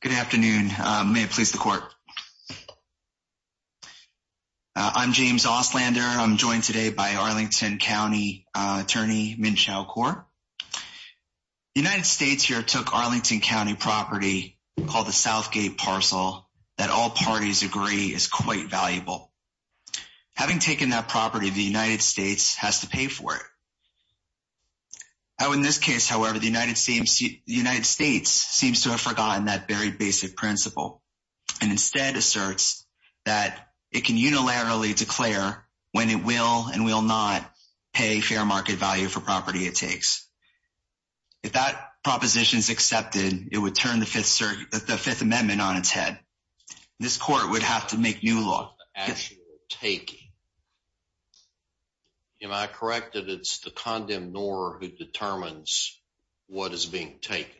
Good afternoon. May it please the court. I'm James Ostlander. I'm joined today by Arlington County Attorney Min Chao Kuo. United States here took Arlington County property called the South Gate parcel that all parties agree is quite valuable. Having taken that property, the United States has to pay for it. Oh, in this case, however, the United States seems to have forgotten that very basic principle and instead asserts that it can unilaterally declare when it will and will not pay fair market value for property it takes. If that proposition is accepted, it would turn the Fifth Circuit, the Fifth Amendment on its head. This court would have to make new law. Actual taking. Am I correct that it's the condemned or who determines what is being taken?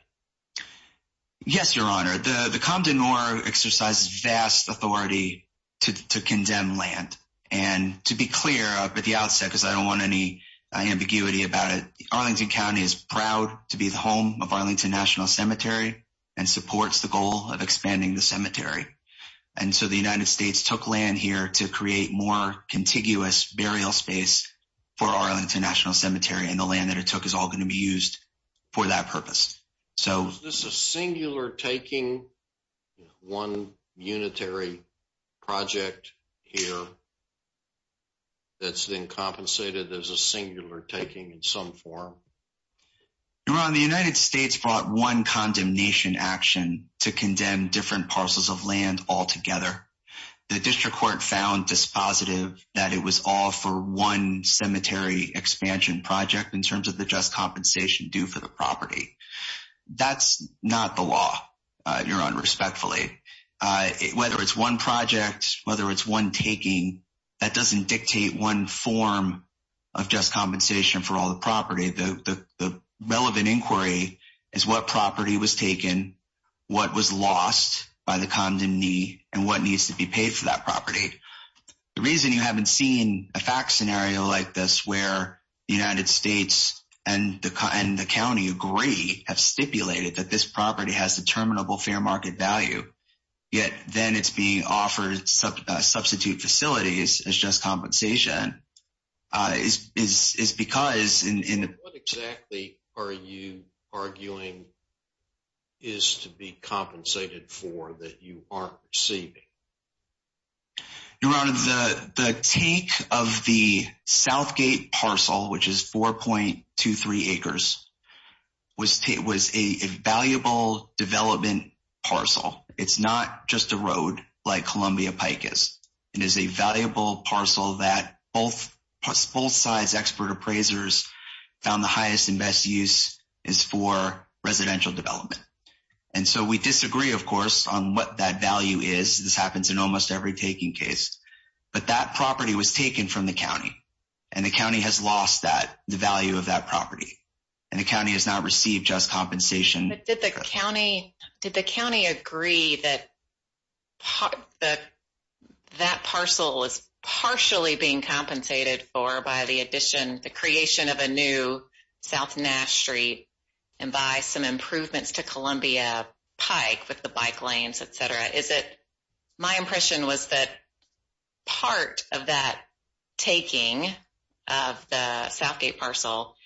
Yes, Your Honor, the the Compton or exercise vast authority to condemn land and to be clear up at the outset because I don't want any ambiguity about it. Arlington County is proud to be the home of Arlington National Cemetery and supports the goal of expanding the cemetery. And so the United States took land here to create more contiguous burial space for Arlington National Cemetery and the land that it took is all going to be used for that purpose. So this is singular taking one unitary project here. That's been compensated. There's a singular taking in some form. You're on the United States brought one condemnation action to condemn different parcels of land altogether. The district court found this positive that it was all for one cemetery expansion project in terms of the just compensation due for the property. That's not the law you're on respectfully whether it's one project whether it's one taking that doesn't dictate one form of just compensation for all the property. The relevant inquiry is what property was taken what was lost by the condom knee and what needs to be paid for that property. The reason you haven't seen a fact scenario like this where the United agree have stipulated that this property has a terminable fair market value yet. Then it's being offered substitute facilities as just compensation is because in exactly are you arguing? Is to be compensated for that. You aren't receiving. You're on the take of the Southgate parcel, which is 4.23 acres. Was it was a valuable development parcel. It's not just a road like Columbia Pike is it is a valuable parcel that both sides expert appraisers found the highest and best use is for residential development. And so we disagree of course on what that value is this happens in almost every taking case, but that property was taken from the county and the It's not received just compensation. Did the county did the county agree that? That parcel is partially being compensated for by the addition the creation of a new South Nash Street and by some improvements to Columbia Pike with the bike lanes, etc. Is it my impression was that part of that taking of the Southgate parcel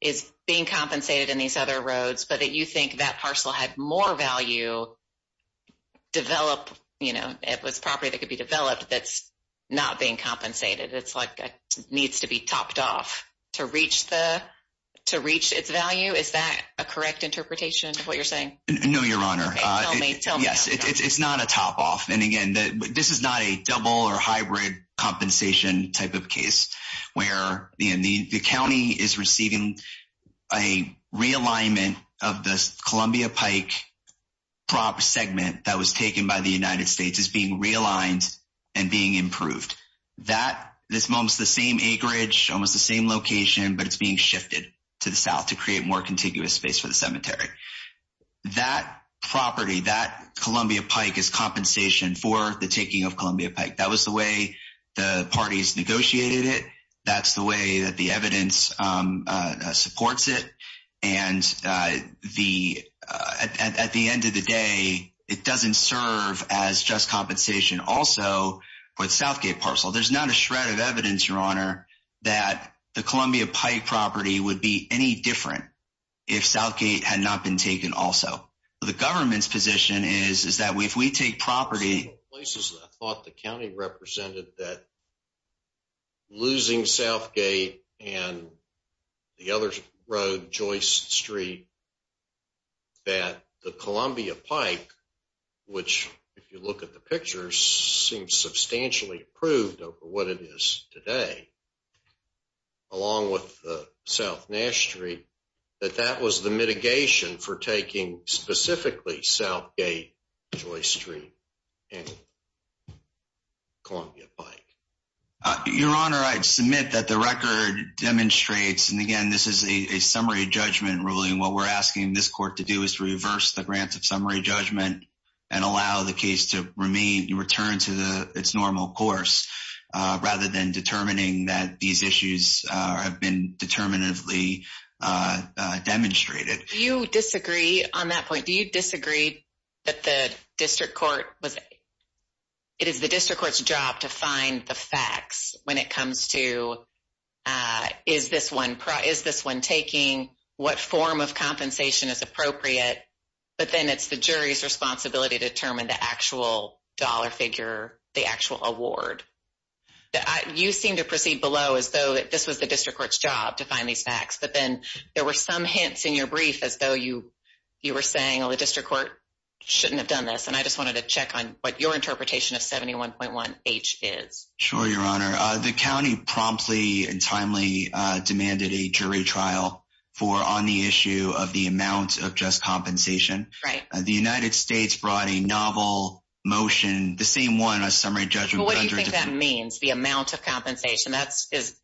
is being compensated in these other roads, but that you think that parcel had more value develop, you know, it was property that could be developed. That's not being compensated. It's like it needs to be topped off to reach the to reach its value. Is that a correct interpretation of what you're saying? No, your honor. Yes, it's not a top-off. And again that this is not a double or hybrid compensation type of case where the county is receiving a realignment of the Columbia Pike prop segment that was taken by the United States is being realigned and being improved that this mom's the same acreage almost the same location, but it's being shifted to the south to create more contiguous space for the cemetery that property that Columbia Pike is compensation for the taking of Columbia Pike. That was the way the parties negotiated it. That's the way that the evidence supports it and the at the end of the day. It doesn't serve as just compensation also, but Southgate parcel. There's not a shred of evidence your honor that the Columbia Pike property would be any different if Southgate had not been taken. Also, the government's position is is that we if we take property places and I thought the county represented that. Losing Southgate and the other road Joyce Street. That the Columbia Pike which if you look at the pictures seems substantially approved over what it is today. Along with the South Nash Street that that was the mitigation for taking specifically Southgate Joyce Street and Columbia Pike your honor. I'd submit that the record demonstrates and again. This is a summary judgment ruling. What we're asking this court to do is to reverse the grants of summary judgment and allow the case to remain you return to the its normal course rather than determining that these issues have been determinatively demonstrated you disagree on that point. Do you disagree that the district court was it is the district court's job to find the facts when it comes to is this one price this one taking what form of compensation is appropriate, but then it's the jury's responsibility to determine the actual dollar figure the actual award that you seem to proceed below as though that this was the district court's job to find these facts, but then there were some hints in your brief as though you you were saying the district court shouldn't have done this and I just wanted to check on what your interpretation of 71.1 H is sure your honor the county promptly and timely demanded a jury trial for on the issue of the amount of just compensation right the United States brought a novel motion the same one a summary judgment. What do you think that means the amount of compensation? That's is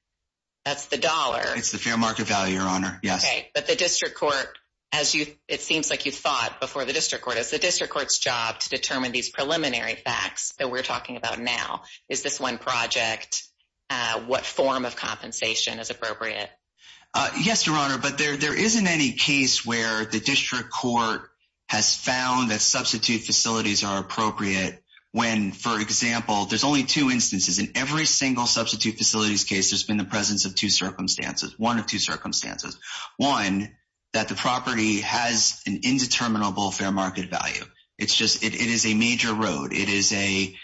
that's the dollar. It's the fair market value your honor. Yes, but the district court as you it seems like you thought before the district court is the district court's job to determine these preliminary facts that we're talking about now is this one project what form of compensation is appropriate. Yes, your honor, but there there isn't any case where the district court has found that substitute facilities are appropriate when for example, there's only two instances in every single substitute facilities case has in the presence of two circumstances. One of two circumstances one that the property has an indeterminable fair market value. It's just it is a major road. It is a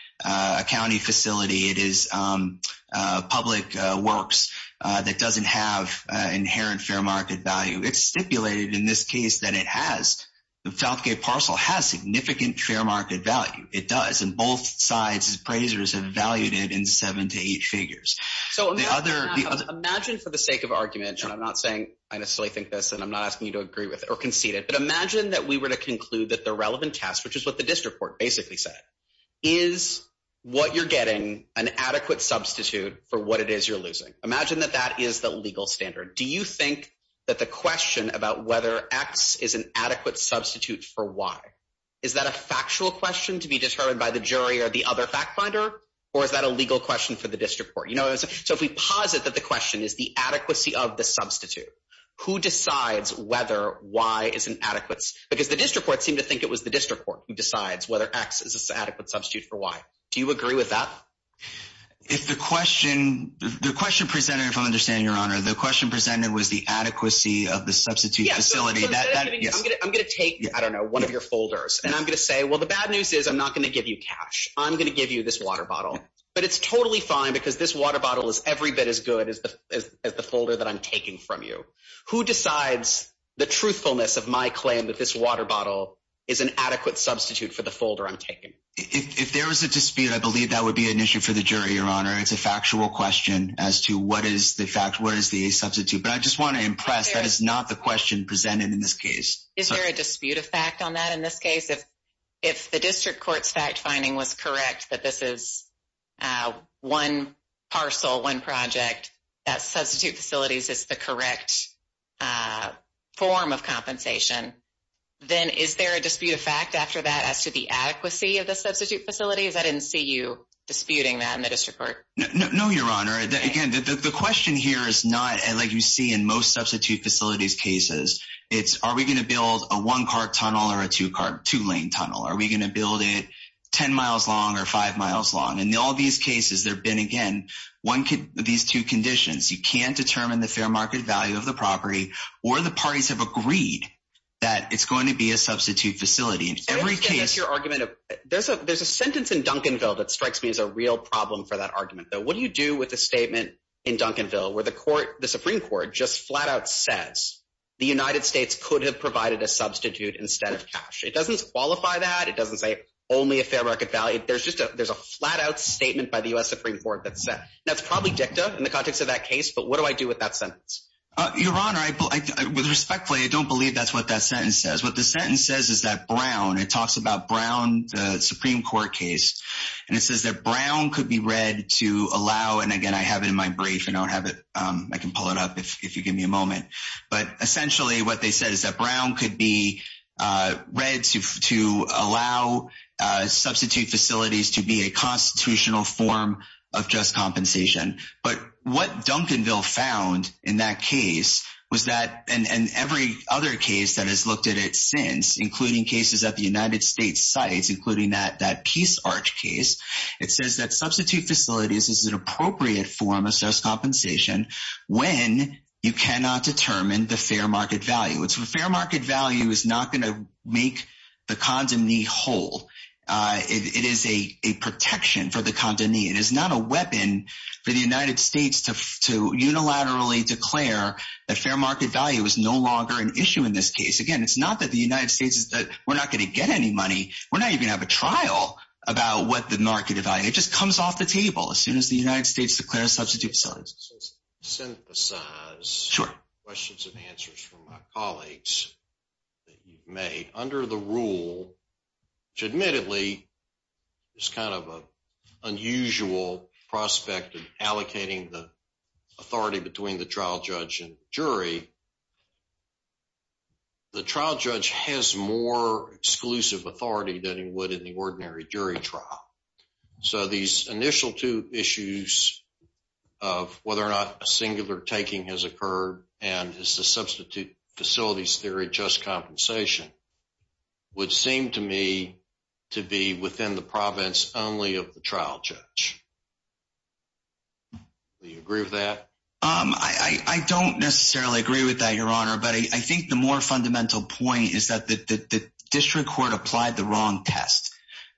county facility. It is public works that doesn't have inherent fair market value. It's stipulated in this case that it has the Falcone parcel has significant fair market value. It does and both sides appraisers have valued it in seven to eight figures. So another imagine for the sake of argument, and I'm not saying I necessarily think this and I'm not asking you to agree with or concede it but imagine that we were to conclude that the relevant test which is what the district court basically said is what you're getting an adequate substitute for what it is. You're losing imagine that that is the legal standard. Do you think that the question about whether X is an adequate substitute for why is that a factual question to be determined by the jury or the You know, so if we posit that the question is the adequacy of the substitute who decides whether Y is an adequate because the district court seem to think it was the district court who decides whether X is a sad but substitute for Y. Do you agree with that? If the question the question presented from understand your honor the question presented was the adequacy of the substitute facility that yes, I'm going to take I don't know one of your folders and I'm going to say well the bad news is I'm not going to give you cash. I'm going to give you this water bottle, but it's totally fine because this water bottle is every bit as good as the folder that I'm taking from you who decides the truthfulness of my claim that this water bottle is an adequate substitute for the folder. I'm taking if there was a dispute. I believe that would be an issue for the jury your honor. It's a factual question as to what is the fact where is the substitute but I just want to impress that is not the question presented in this case. Is there a dispute of fact on that in this case if if the district court's fact-finding was correct that this is one parcel one project that substitute facilities is the correct form of compensation. Then is there a dispute of fact after that as to the adequacy of the substitute facilities? I didn't see you disputing that in the district court. No, your honor that again that the question here is not and like you see in most substitute facilities cases. It's are we going to build a one-car tunnel or a two-car two-lane tunnel? Are we going to build it 10 miles long or five miles long and all these cases there been again one kid these two conditions. You can't determine the fair market value of the property or the parties have agreed that it's going to be a substitute facility in every case your argument of there's a there's a sentence in Duncanville that strikes me as a real problem for that argument though. What do you do with a statement in Duncanville where the court the Supreme Court just flat-out says the United States could have provided a substitute instead of cash. It doesn't qualify that it doesn't say only a fair market value. There's just a there's a flat-out statement by the US Supreme Court that said that's probably dicta in the context of that case. But what do I do with that sentence your honor? I would respectfully. I don't believe that's what that sentence says. What the sentence says is that Brown it talks about Brown the Supreme Court case and it says that Brown could be read to allow and again, I have it in my brief and I'll have it I can pull it up if you give me a To allow substitute facilities to be a constitutional form of just compensation, but what Duncanville found in that case was that and every other case that has looked at it since including cases at the United States sites, including that that Peace Arch case. It says that substitute facilities is an appropriate form of self-compensation when you cannot determine the fair market value. It's a fair market value is not going to make the condom knee hole. It is a protection for the condom knee. It is not a weapon for the United States to unilaterally declare that fair market value is no longer an issue in this case again. It's not that the United States is that we're not going to get any money. We're not even have a trial about what the market value just comes off the table as soon as the United States declare substitute. Synthesize questions and answers from my colleagues that you've made under the rule to admittedly is kind of a unusual prospect of allocating the authority between the trial judge and jury. The trial judge has more exclusive authority than he would in the ordinary jury trial. So these initial two issues of whether or not a singular taking has occurred and is the substitute facilities. Theory just compensation would seem to me to be within the province only of the trial judge. Do you agree with that? I don't necessarily agree with that your honor, but I think the more fundamental point is that the district court applied the wrong test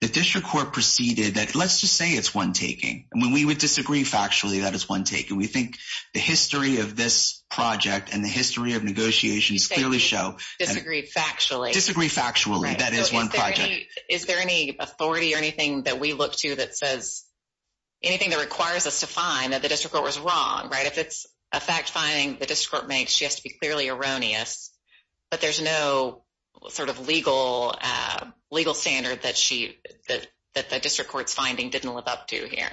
the district court preceded that let's just say it's one taking and when we would disagree factually that is one take and we think the history of this project and the history of negotiations clearly show disagreed factually disagree factually that is one project is there any authority or anything that we look to that says anything that requires us to find that the district court was wrong, right? If it's a fact-finding the district court makes she has to be clearly erroneous, but there's no sort of legal legal standard that she that the district courts finding didn't live up to here.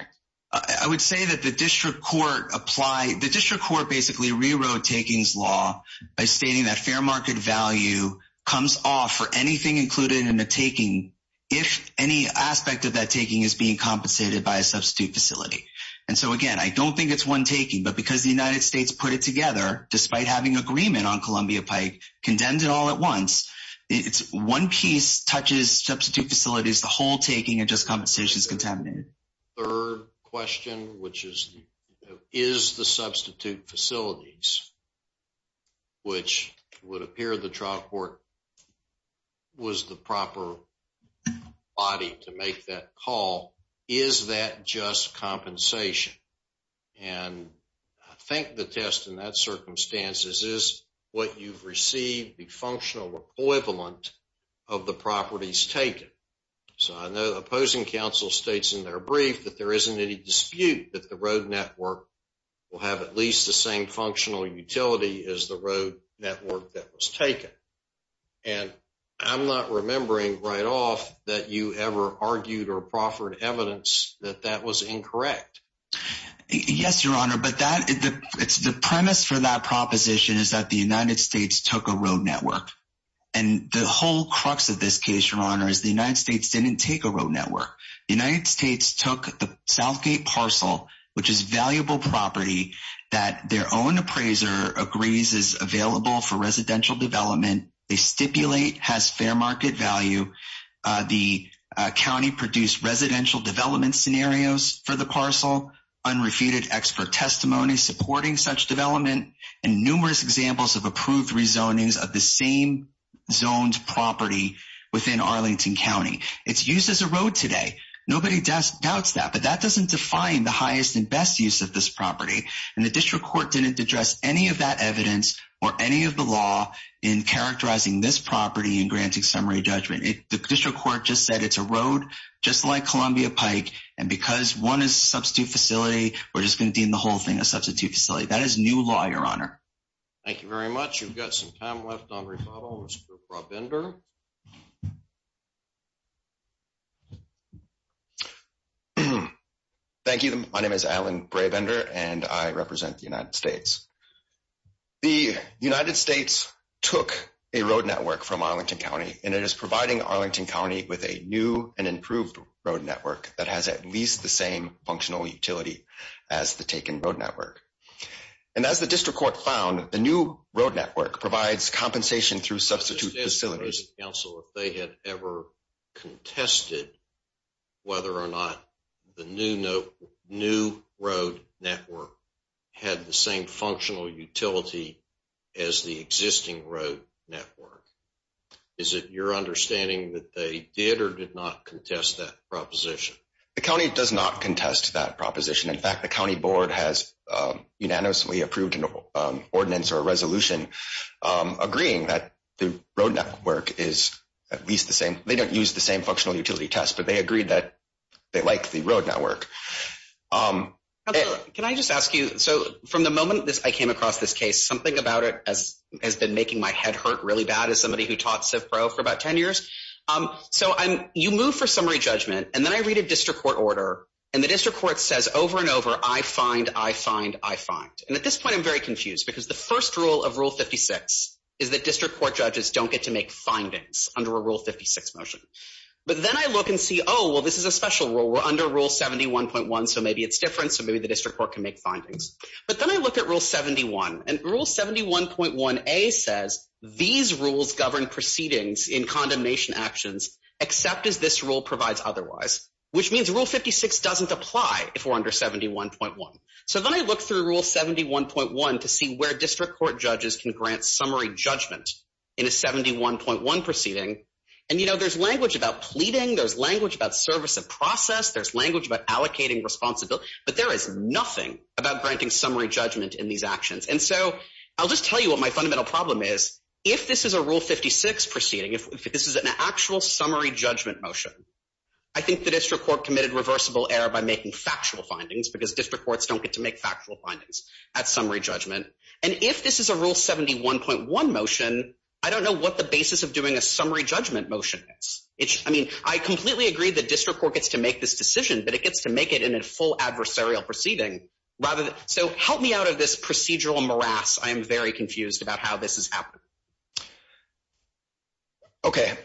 I would say that the district court apply the district court basically rewrote takings law by stating that fair market value comes off for anything included in the taking if any aspect of that taking is being compensated by a substitute facility. And so again, I don't think it's one taking but because the United Agreement on Columbia Pike condemned it all at once. It's one piece touches substitute facilities the whole taking a just compensation is contaminated. Third question, which is is the substitute facilities? Which would appear the trial court? Was the proper body to make that call is that just compensation? And I think the test in that circumstances is what you've received the functional equivalent of the properties taken. So I know the opposing counsel states in their brief that there isn't any dispute that the road network will have at least the same functional utility is the road network that was taken and I'm not remembering right off that you ever argued or proffered evidence that that was incorrect. Yes, your honor, but that is the premise for that proposition is that the United States took a road network and the whole crux of this case your honor is the United States didn't take a road network United States took the Southgate parcel, which is valuable property that their own appraiser agrees is available for residential development. They stipulate has fair market value. The county produced residential development scenarios for the parcel unrefuted expert testimony supporting such development and numerous examples of approved rezoning of the same zoned property within Arlington County. It's used as a road today. Nobody does doubts that but that doesn't define the highest and best use of this property and the district court didn't address any of that evidence or any of the law in characterizing this property and granting summary judgment. The district court just said it's a road just like Columbia Pike and because one is substitute facility. We're just going to deem the whole thing a substitute facility. That is new law your honor. Thank you very much. You've got some time left on rebuttal. Thank you. My name is Alan Brabender and I represent the United States. The United States took a road network from Arlington County and it is providing Arlington County with a new and improved road network that has at least the same functional utility as the taken road network. And as the district court found the new road network provides compensation through substitute facilities. Also if they had ever contested whether or not the new note new road network had the same functional utility as the existing road network. Is it your understanding that they did or did not contest that proposition? The county does not contest that proposition. In fact, the county board has unanimously approved an ordinance or a resolution agreeing that the road network is at least the same. They don't use the same functional utility test, but they agreed that they like the road network. Can I just ask you so from the moment this I came across this case something about it as has been making my head hurt really bad as somebody who taught CivPro for about 10 years. So I'm you move for summary judgment and then I read a district court order and the district court says over and over I find I find I find and at this point, I'm very confused because the first rule of rule 56 is that district court judges don't get to make findings under a rule 56 motion, but then I look and see. Oh, well, this is a special rule. We're under rule 71.1. So maybe it's different. So maybe the district court can make findings, but then I look at rule 71 and rule 71.1 a says these rules govern proceedings in condemnation actions except as this rule provides otherwise, which means rule 56 doesn't apply if we're under 71.1. So then I look through rule 71.1 to see where district court judges can grant summary judgment in a 71.1 proceeding and you know, there's language about pleading. There's language about service of process. There's language about allocating responsibility, but there is nothing about granting summary judgment in these actions. And so I'll just tell you what my fundamental problem is. If this is a rule 56 proceeding, if this is an actual summary judgment motion, I think the district court committed reversible error by making factual findings because district courts don't get to make factual findings at summary judgment. And if this is a rule 71.1 motion, I don't know what the basis of doing a summary judgment motion is. It's I mean, I completely agree that district court gets to make this decision, but it gets to make it in a full adversarial proceeding rather than So help me out of this procedural morass. I am very confused about how this is happening. Okay.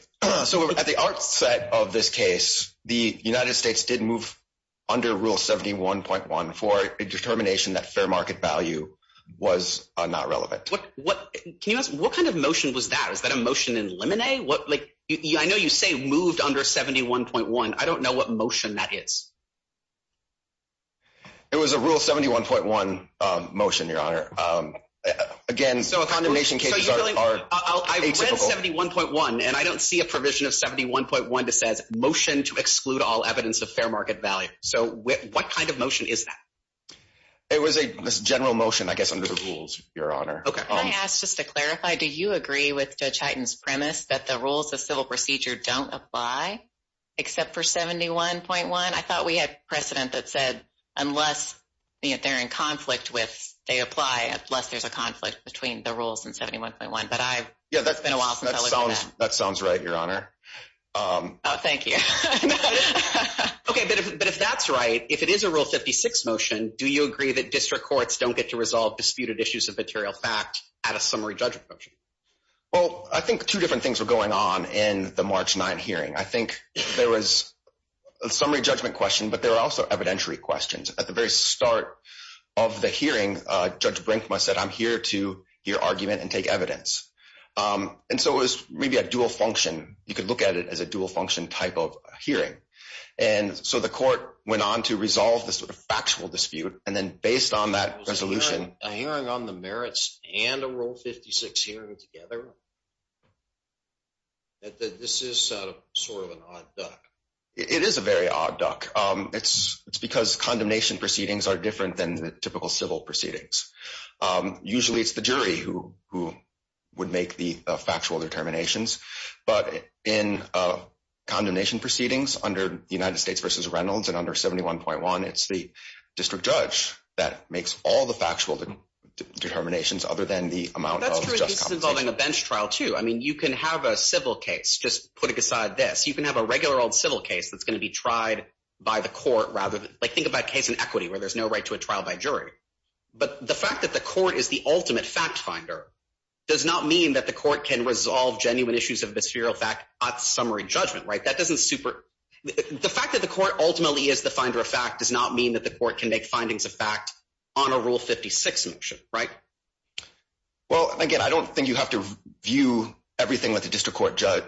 So at the outset of this case, the United States did move under rule 71.1 for a determination that fair market value was not relevant. What can you ask? What kind of motion was that? Is that a motion in lemonade? What like you I know you say moved under 71.1. I don't know what motion that is. It was a rule 71.1 motion, your honor. Again, so a condemnation cases are I read 71.1 and I don't see a provision of 71.1 to says motion to exclude all evidence of fair market value. So what kind of motion is that? It was a general motion. I guess under the rules, your honor. Okay, I asked just to clarify. Do you agree with the Titans premise that the rules of civil procedure don't apply except for 71.1? I thought we had precedent that said unless they're in conflict with they apply at less. There's a conflict between the rules and 71.1, but I yeah, that's been a while. So that sounds right, your honor. Thank you. Okay, but if that's right, if it is a rule 56 motion, do you agree that district courts don't get to resolve disputed issues of material fact at a summary judgment? Well, I think two different things were going on in the March 9 hearing. I think there was a summary judgment question, but there are also evidentiary questions at the very start of the hearing. Judge Brinkman said I'm here to hear argument and take evidence. And so it was really a dual function. You could look at it as a dual function type of hearing. And so the court went on to resolve the sort of factual dispute and then based on that resolution hearing on the merits and a rule 56 hearing together. That this is sort of an odd duck. It is a very odd duck. It's because condemnation proceedings are different than the typical civil proceedings. Usually it's the jury who would make the factual determinations, but in condemnation proceedings under the United States versus Reynolds and under 71.1, it's the district judge that makes all the factual determinations other than the amount of justice. This is involving a bench trial, too. I mean, you can have a civil case just putting aside this. You can have a regular old civil case that's going to be tried by the court rather than like think about case in equity where there's no right to a trial by jury. But the fact that the court is the ultimate fact finder does not mean that the court can resolve genuine issues of bispheral fact at summary judgment, right? That doesn't super the fact that the court ultimately is the finder of fact does not mean that the court can make findings of fact on a rule 56 motion, right? Well, again, I don't think you have to view everything with the district court judge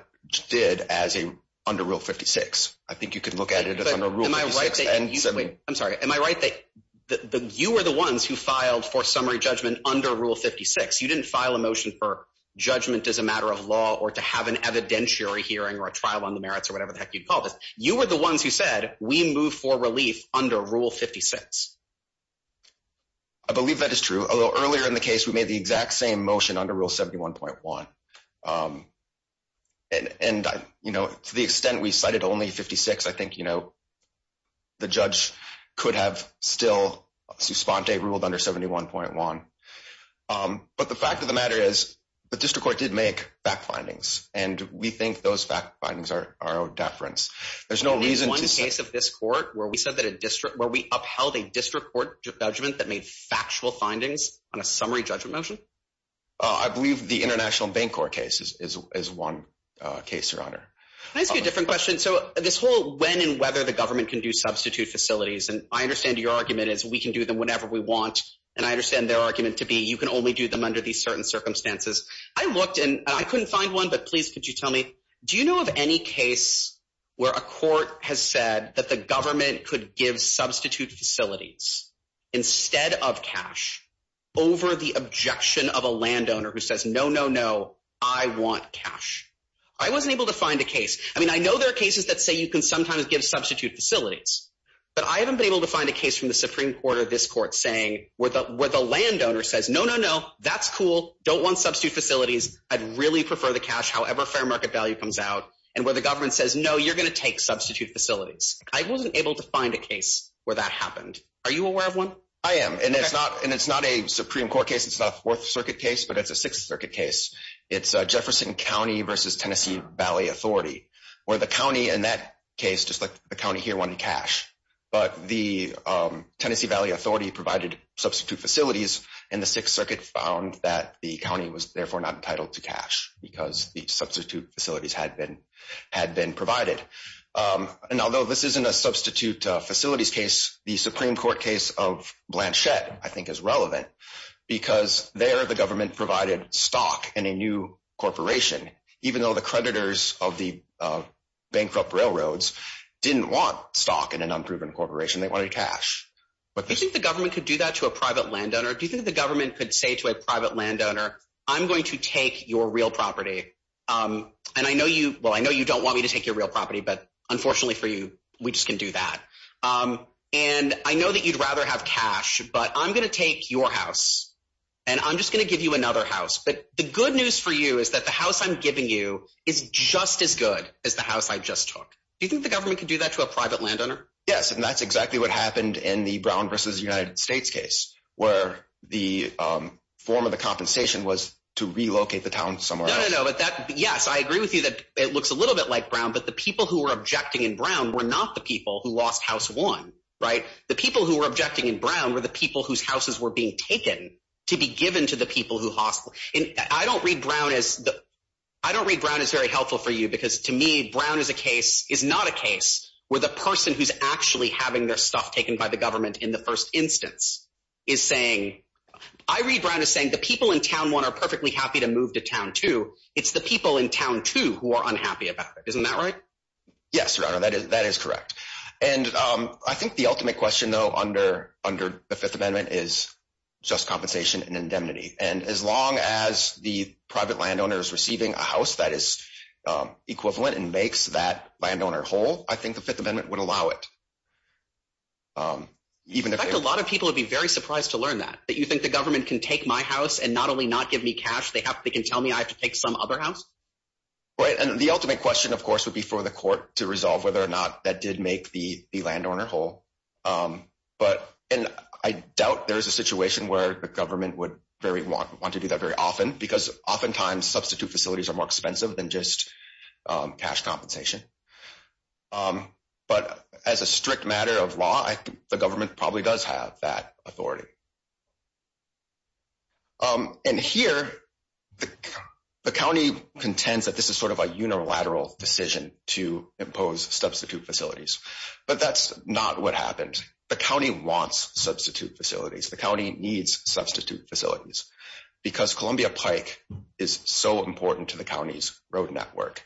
did as a under rule 56. I think you can look at it. I'm sorry. Am I right that you were the ones who filed for summary judgment under rule 56. You didn't file a motion for judgment as a matter of law or to have an evidentiary hearing or a trial on the merits or whatever the heck you call this. You were the ones who said we move for relief under rule 56. I believe that is true. Earlier in the case. We made the exact same motion under rule 71.1. And I, you know, to the extent we cited only 56, I think, you know, the judge could have still suspended ruled under 71.1. But the fact of the matter is the district court did make fact findings and we think those fact findings are our own deference. There's no reason to say this court where we said that a district where we upheld a district court judgment that made factual findings on a summary judgment motion. I believe the International Bank or cases is one case your honor. I see a different question. So this whole when and whether the government can do substitute facilities and I understand your argument is we can do them whenever we want and I understand their argument to be you can only do them under these certain circumstances. I looked and I couldn't find one but please could you tell me do you know of any case where a court has said that the government could give substitute facilities instead of cash over the objection of a landowner who says no, no, no, I want cash. I wasn't able to find a case. I mean, I know there are cases that say you can sometimes give substitute facilities, but I haven't been able to find a case from the Supreme Court of this court saying where the where the landowner says no, no, no, that's cool. Don't want substitute facilities. I'd really prefer the cash. However, fair market value comes out and where the government says no, you're going to take substitute facilities. I wasn't able to find a case where that happened. Are you aware of one? I am and it's not and it's not a Supreme Court case. It's not worth circuit case, but it's a Sixth Circuit case. It's Jefferson County versus Tennessee Valley Authority where the county and that case just like the county here one cash, but the Tennessee Valley Authority provided substitute facilities and the Sixth Circuit found that the county was therefore not entitled to cash because the substitute facilities had been had been provided and although this isn't a substitute facilities case, the Supreme Court case of Blanchette, I think is relevant because there the government provided stock in a new corporation, even though the creditors of the bankrupt railroads didn't want stock in an unproven corporation. They wanted cash, but they think the government could do that to a private landowner. Do you think the government could say to a private landowner? I'm going to take your real property and I know you well, I know you don't want me to take your real property. But unfortunately for you, we just can do that. And I know that you'd rather have cash, but I'm going to take your house and I'm just going to give you another house. But the good news for you is that the house I'm giving you is just as good as the house. I just took do you think the government could do that to a private landowner? Yes, and that's exactly what happened in the Brown versus United States case where the form of the compensation was to relocate the town somewhere. No, but that yes. I agree with you that it looks a little bit like Brown, but the people who were objecting in Brown were not the people who lost house one, right? The people who were objecting in Brown were the people whose houses were being taken to be given to the people who hostile and I don't read Brown as the I don't read Brown is very helpful for you because to me Brown is a case is not a case where the person who's actually having their stuff taken by the government in the first instance is saying I read Brown is saying the people in town one are perfectly happy to move to town to it's the people in town to who are unhappy about it. Isn't that right? Yes, your honor. That is that is correct. And I think the ultimate question though under under the Fifth Amendment is just compensation and indemnity and as long as the private landowners receiving a house that is equivalent and makes that landowner whole I think the Fifth Amendment would allow it. Even if a lot of people would be very surprised to learn that that you think the government can take my house and not only not give me cash they have they can tell me I have to take some other house. Right and the ultimate question of course would be for the court to resolve whether or not that did make the landowner whole but and I doubt there is a situation where the government would very want to do that very often because oftentimes substitute facilities are more expensive than just cash compensation. But as a strict matter of law, I think the government probably does have that authority. And here the county contends that this is sort of a unilateral decision to impose substitute facilities, but that's not what happened. The county wants substitute facilities. The county needs substitute facilities because Columbia Pike is so important to the county's road network.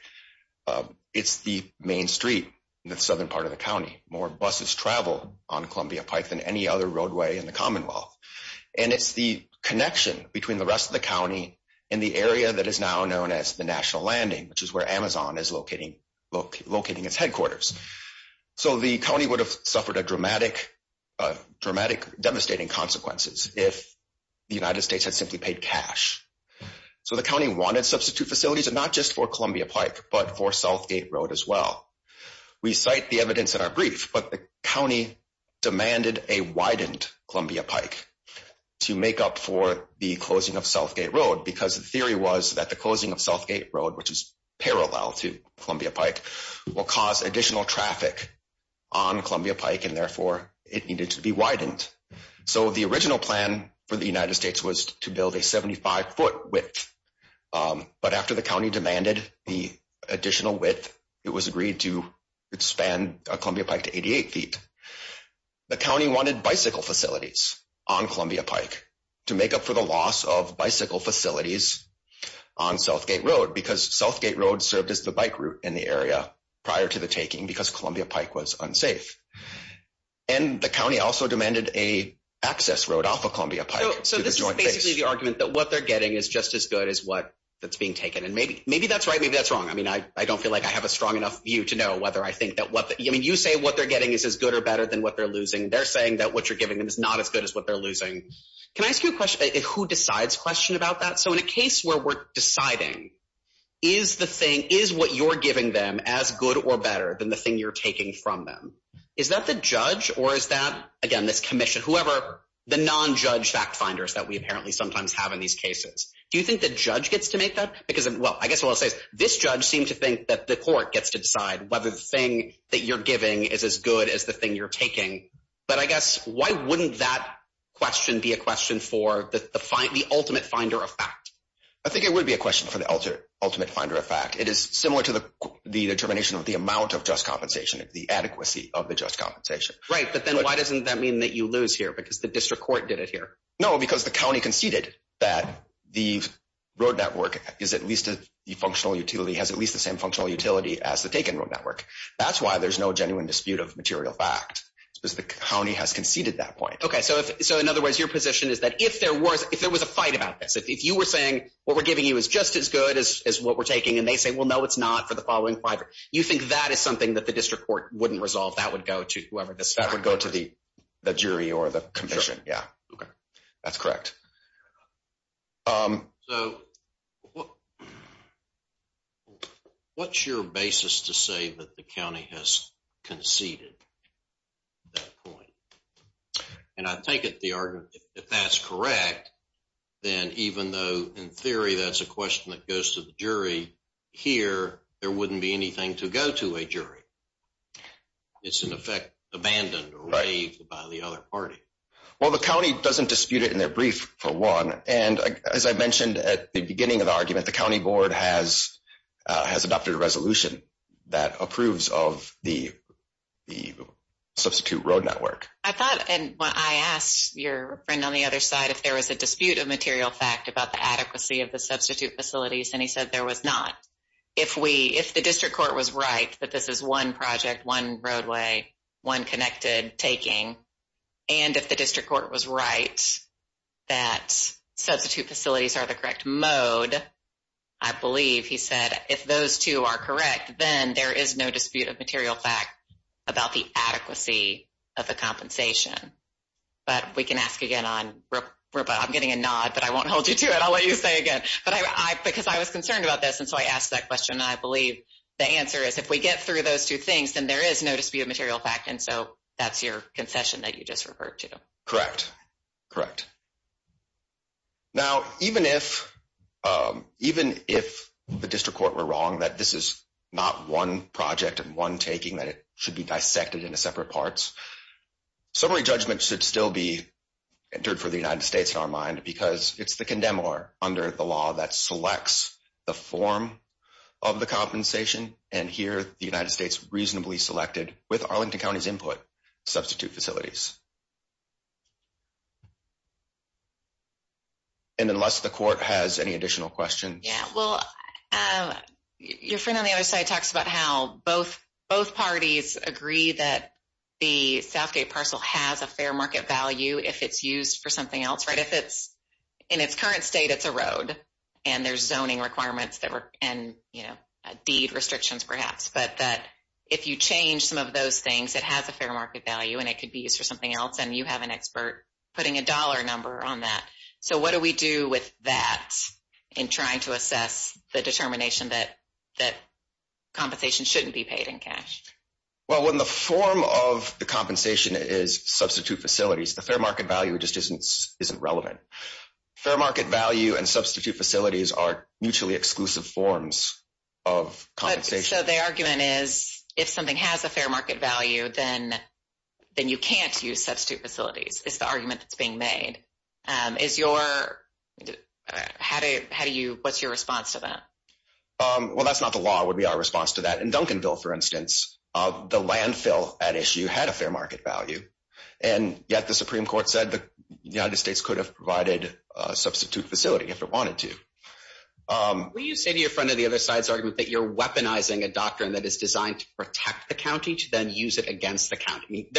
It's the Main Street in the southern part of the county more buses travel on Columbia Pike than any other roadway in the Commonwealth. And it's the connection between the rest of the county in the area that is now known as the National Landing, which is where Amazon is locating locating its headquarters. So the county would have suffered a dramatic dramatic devastating consequences if the United States has simply paid cash. So the county wanted substitute facilities and not just for Columbia Pike, but for Southgate Road as well. to make up for the closing of Southgate Road because the theory was that the closing of Southgate Road, which is parallel to Columbia Pike will cause additional traffic on Columbia Pike and therefore it needed to be widened. So the original plan for the United States was to build a 75-foot width, but after the county demanded the additional width, it was agreed to expand Columbia Pike to 88 feet. The county wanted bicycle facilities on Columbia Pike to make up for the loss of bicycle facilities on Southgate Road because Southgate Road served as the bike route in the area prior to the taking because Columbia Pike was unsafe. And the county also demanded a access road off of Columbia Pike. So this is basically the argument that what they're getting is just as good as what that's being taken and maybe maybe that's right. Maybe that's wrong. I mean, I don't feel like I have a strong enough view to know whether I better than what they're losing. They're saying that what you're giving them is not as good as what they're losing. Can I ask you a question? Who decides question about that? So in a case where we're deciding is the thing is what you're giving them as good or better than the thing you're taking from them. Is that the judge or is that again this Commission whoever the non-judge fact-finders that we apparently sometimes have in these cases. Do you think the judge gets to make that because of well, I guess what I'll say is this judge seem to think that the court gets to decide whether the you're giving is as good as the thing you're taking but I guess why wouldn't that question be a question for the find the ultimate finder of fact, I think it would be a question for the ultimate ultimate finder of fact. It is similar to the determination of the amount of just compensation of the adequacy of the just compensation, right? But then why doesn't that mean that you lose here because the district court did it here. No because the county conceded that the road network is at least a functional utility has at least the same functional utility as the taken road network. That's why there's no genuine dispute of material fact because the county has conceded that point. Okay. So if so, in other words, your position is that if there was if there was a fight about this, if you were saying what we're giving you is just as good as what we're taking and they say, well, no, it's not for the following five or you think that is something that the district court wouldn't resolve that would go to whoever this that would go to the jury or the commission. Yeah, that's correct. So what what's your basis to say that the county has conceded that point and I think it the argument if that's correct, then even though in theory, that's a question that goes to the jury here. There wouldn't be anything to go to a jury. It's an effect abandoned or raved by the other party. Well, the county doesn't dispute it in their brief for one. And as I mentioned at the beginning of the argument, the county board has has adopted a resolution that approves of the substitute road network. I thought and when I asked your friend on the other side, if there was a dispute of material fact about the adequacy of the substitute facilities, and he said there was not if we if the district court was right that this is one project one roadway one connected taking and if the district court was right that substitute facilities are the correct mode. I believe he said if those two are correct, then there is no dispute of material fact about the adequacy of the compensation. But we can ask again on robot. I'm getting a nod, but I won't hold you to it. I'll let you say again, but I because I was concerned about this. And so I asked that question. I believe the answer is if we get through those two things, then there is no dispute of material fact. And so that's your concession that you just referred to correct. Correct. Now, even if even if the district court were wrong that this is not one project and one taking that it should be dissected into separate parts. Summary judgment should still be entered for the United States in our mind because it's the condemn or under the law that selects the form of the compensation and here the United States reasonably selected with Arlington County's input substitute facilities. And unless the court has any additional questions, your friend on the other side talks about how both both parties agree that the Southgate parcel has a fair market value. If it's used for something else, right? If it's in its current state, it's a road and there's zoning requirements that were in, you know, deed restrictions, perhaps, but that if you change some of those things, it has a fair market value and it could be used for something else and you have an expert putting a dollar number on that. So what do we do with that in trying to assess the determination that that compensation shouldn't be paid in cash? Well, when the form of the compensation is substitute facilities, the fair market value just isn't isn't relevant fair market value and substitute facilities are mutually exclusive forms of compensation. So the argument is if something has a fair market value, then then you can't use substitute facilities. It's the argument that's being made is your how do you what's your response to that? Well, that's not the law would be our response to that in Duncanville for instance of the landfill at issue had a fair market value and yet the Supreme Court said the United States could have provided substitute facility if it wanted to. Will you say to your friend of the other side's argument that you're weaponizing a doctrine that is designed to protect the county to then use it against the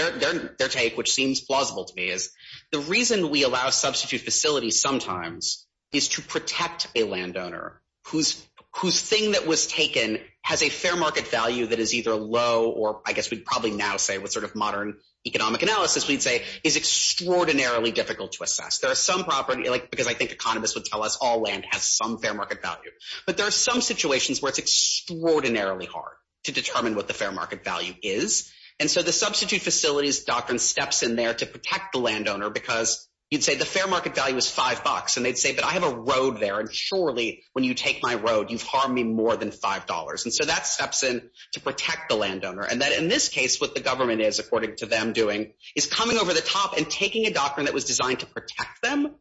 Their take which seems plausible to me is the reason we allow substitute facility. Sometimes is to protect a landowner whose whose thing that was taken has a fair market value that is either low or I guess we probably now say what sort of modern economic analysis we'd say is extraordinarily difficult to assess. There are some property like because I think economists would tell us all land has some fair market value, but there are some situations where it's extraordinarily hard to determine what the fair market value is. And so the substitute facilities doctrine steps in there to protect the landowner because you'd say the fair market value is five bucks and they'd say but I have a road there and surely when you take my road, you've harmed me more than five dollars. And so that steps in to protect the landowner and that in this case what the government is according to them doing is coming over the top and taking a doctrine that was designed to protect them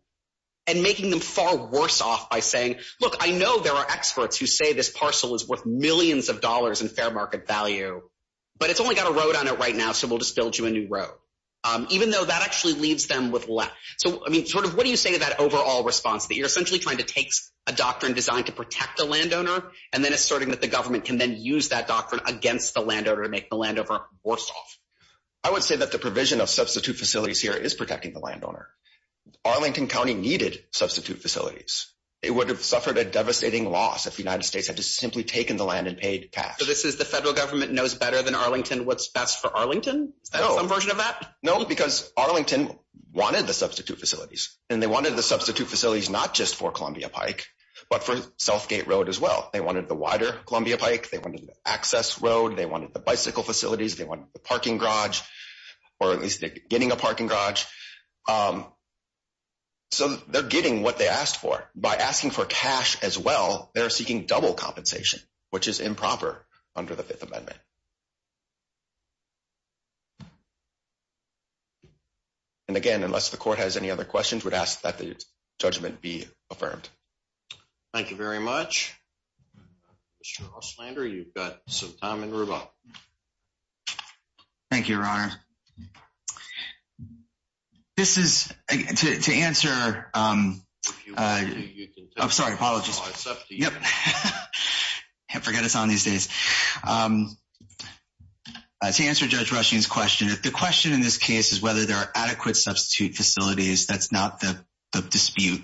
and making them far worse off by saying look, I know there are experts who say this parcel is worth millions of dollars in fair market value, but it's only got a road on it right now. So we'll just build you a new road even though that actually leaves them with left. So I mean sort of what do you say to that overall response that you're essentially trying to take a doctrine designed to protect the landowner and then asserting that the government can then use that doctrine against the landowner to make the land over or soft. I would say that the provision of substitute facilities here is protecting the landowner Arlington County needed substitute facilities. It would have suffered a devastating loss if the United States had to simply taken the land and paid cash. This is the federal government knows better than Arlington. What's best for Arlington version of that? No, because Arlington wanted the substitute facilities and they wanted the substitute facilities not just for Columbia Pike, but for Southgate Road as well. They wanted the wider Columbia Pike. They wanted Access Road. They wanted the bicycle facilities. They want the parking garage or at least getting a parking garage. So they're getting what they asked for by asking for cash as well. They're seeking double compensation, which is improper under the Fifth Amendment. And again, unless the court has any other questions would ask that the judgment be affirmed. Thank you very much. Sure. I'll slander. You've got some time in rubble. Thank you, your Honor. This is to answer. I'm sorry. Apologies. Can't forget us on these days. To answer Judge Rushing's question at the question in this case is whether there are adequate substitute facilities. That's not the dispute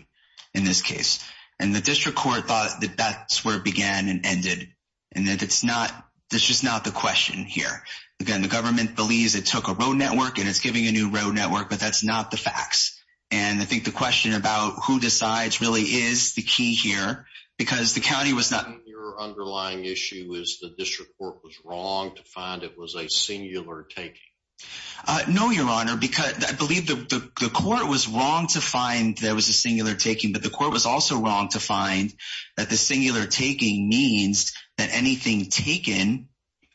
in this case and the district court thought that that's where it began and ended and that it's not this is not the question here. Again, the government believes it took a road network and it's giving a new road network, but that's not the facts and I think the question about who decides really is the key here because the county was not your underlying issue is the district court was wrong to find it was a singular taking. No, your Honor, because I believe the court was wrong to find there was a singular taking but the court was also wrong to find that the singular taking means that anything taken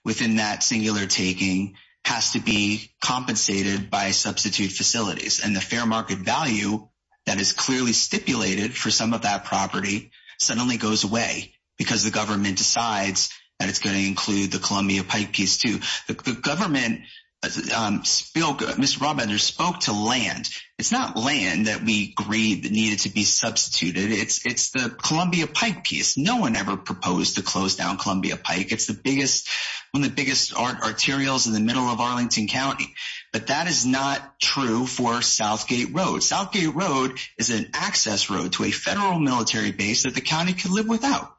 within that singular taking has to be compensated by substitute facilities and the fair market value that is clearly stipulated for some of that property suddenly goes away because the government decides that it's going to include the Columbia Pike piece to the government spill good. Mr. Robinson spoke to land. It's not land that we agreed that needed to be substituted. It's it's the Columbia Pike piece. No one ever proposed to close down Columbia Pike. It's the biggest one of the biggest art arterials in the middle of Arlington County, but that is not true for Southgate Road. Southgate Road is an access road to a federal military base that the county could live without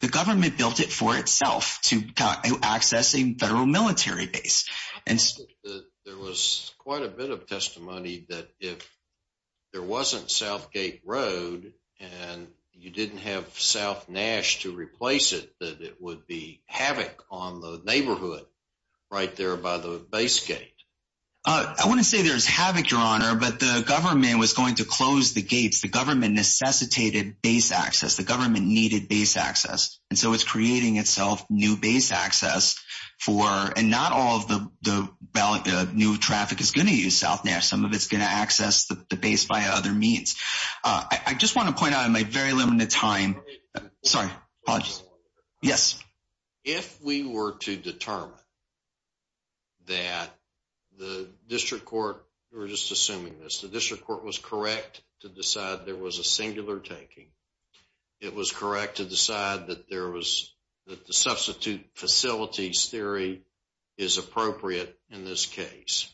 the government built it for itself to accessing federal military base and there was quite a bit of testimony that if there wasn't South Gate Road and you didn't have South Nash to replace it that it would be havoc on the neighborhood right there by the base gate. I want to say there's havoc Your Honor, but the government was going to close the gates. The government necessitated base access the government needed base access and so it's creating itself new base access for and not all of the ballot. The new traffic is going to use South Nash. Some of its going to access the base by other means. I just want to point out in my very limited time. Sorry. Yes. If we were to determine that the district court or just assuming this the district court was correct to decide there was a singular taking it was correct to decide that there was that the substitute facilities theory is appropriate in this case.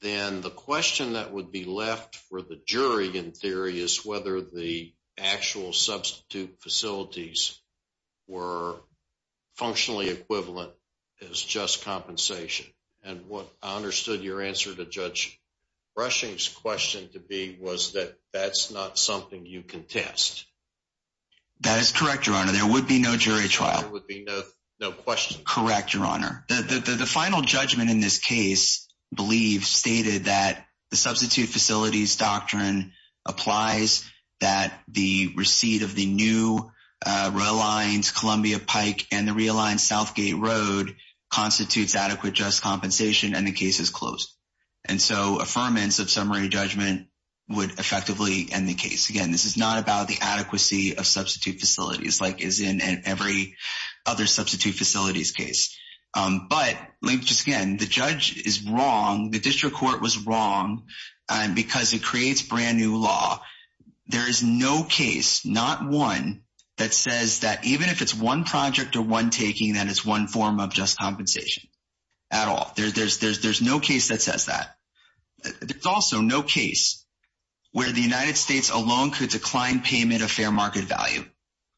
Then the question that would be left for the jury in theory is whether the actual substitute facilities were functionally equivalent is just compensation. And what I understood your answer to judge rushing's question to be was that that's not something you can test. That is correct. Your Honor. There would be no jury trial would be no question. Correct. Your Honor that the final judgment in this case believe stated that the receipt of the new rail lines Columbia Pike and the realign South Gate Road constitutes adequate just compensation and the case is closed. And so affirmance of summary judgment would effectively end the case again. This is not about the adequacy of substitute facilities like is in every other substitute facilities case, but link to skin. The judge is wrong. The district court was wrong because it creates brand new law. There is no case not one that says that even if it's one project or one taking that it's one form of just compensation at all. There's there's there's there's no case that says that it's also no case where the United States alone could decline payment of fair market value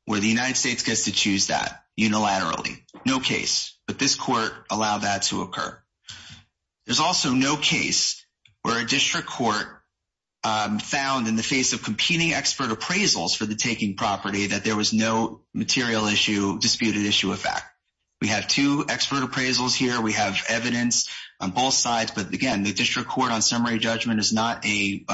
where the United States gets to choose that unilaterally no case, but this court allow that to occur. There's also no case where a district court found in the face of competing expert appraisals for the taking property that there was no material issue disputed issue of fact, we have two expert appraisals here. We have evidence on both sides. But again, the district court on summary judgment is not a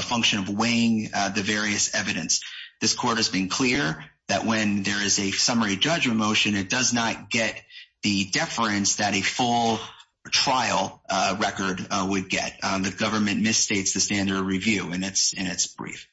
function of weighing the various evidence. This court has been clear that when there is a summary judgment motion, it does not get the deference that a full trial record would get the government misstates the standard review and it's in its brief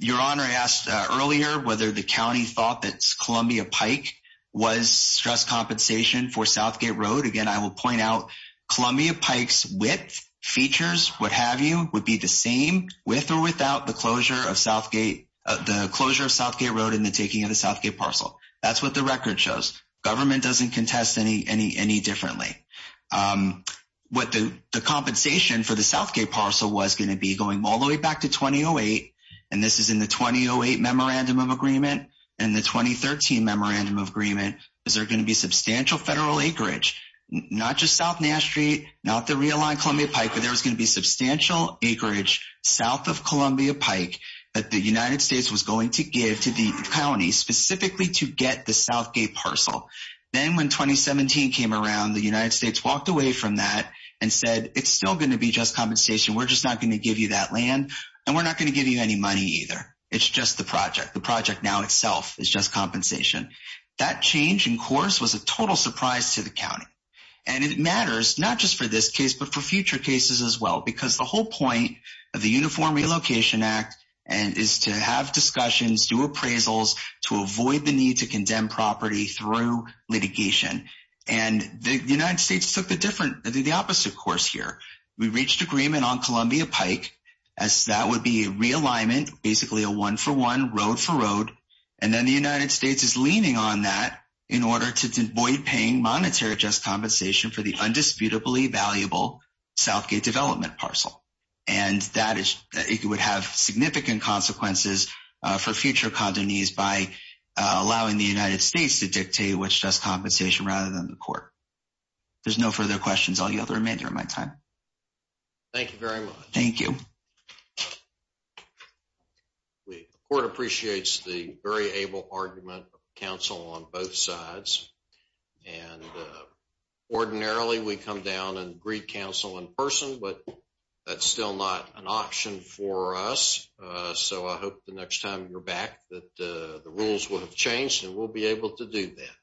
your honor. I asked earlier whether the county thought that's Columbia Pike was stress compensation for Southgate Road. Again. I will point out Columbia Pikes with features. What have you would be the same with or without the closure of Southgate the closure of Southgate Road in the taking of the Southgate parcel. That's what the record shows government doesn't contest any any any differently what the compensation for the Southgate parcel was going to be going all the way back to 2008 and this is in the 2008 memorandum of agreement and the 2013 memorandum of agreement. Is there going to be substantial federal acreage not just South Nash Street, not the realign Columbia Pike, but there's going to be substantial acreage south of Columbia Pike that the United States was going to give to the county specifically to get the Southgate parcel. Then when 2017 came around the United States walked away from that and said it's still going to be just compensation. We're just not going to give you that land and we're not going to give you any money either. It's just the project the project now itself is just compensation that change in course was a total surprise to the county and it matters not just for this case, but for future cases as well because the whole point of the uniform Relocation Act and is to have discussions do appraisals to avoid the need to condemn property through litigation and the United States took the different the opposite course here. We reached agreement on Columbia Pike as that would be realignment basically a one-for-one road for road and then the United States is leaning on that in order to avoid paying monetary just compensation for the undisputably valuable Southgate development parcel and that is it would have significant consequences for future condonees by allowing the United States to dictate what's just compensation rather than the court. There's no further questions. I'll yield the remainder of my time. Thank you very much. Thank you. We court appreciates the very able argument Council on both sides and ordinarily we come down and greet Council in person, but that's still not an option for us. So I hope the next time you're back that the rules would have changed and we'll be able to do that.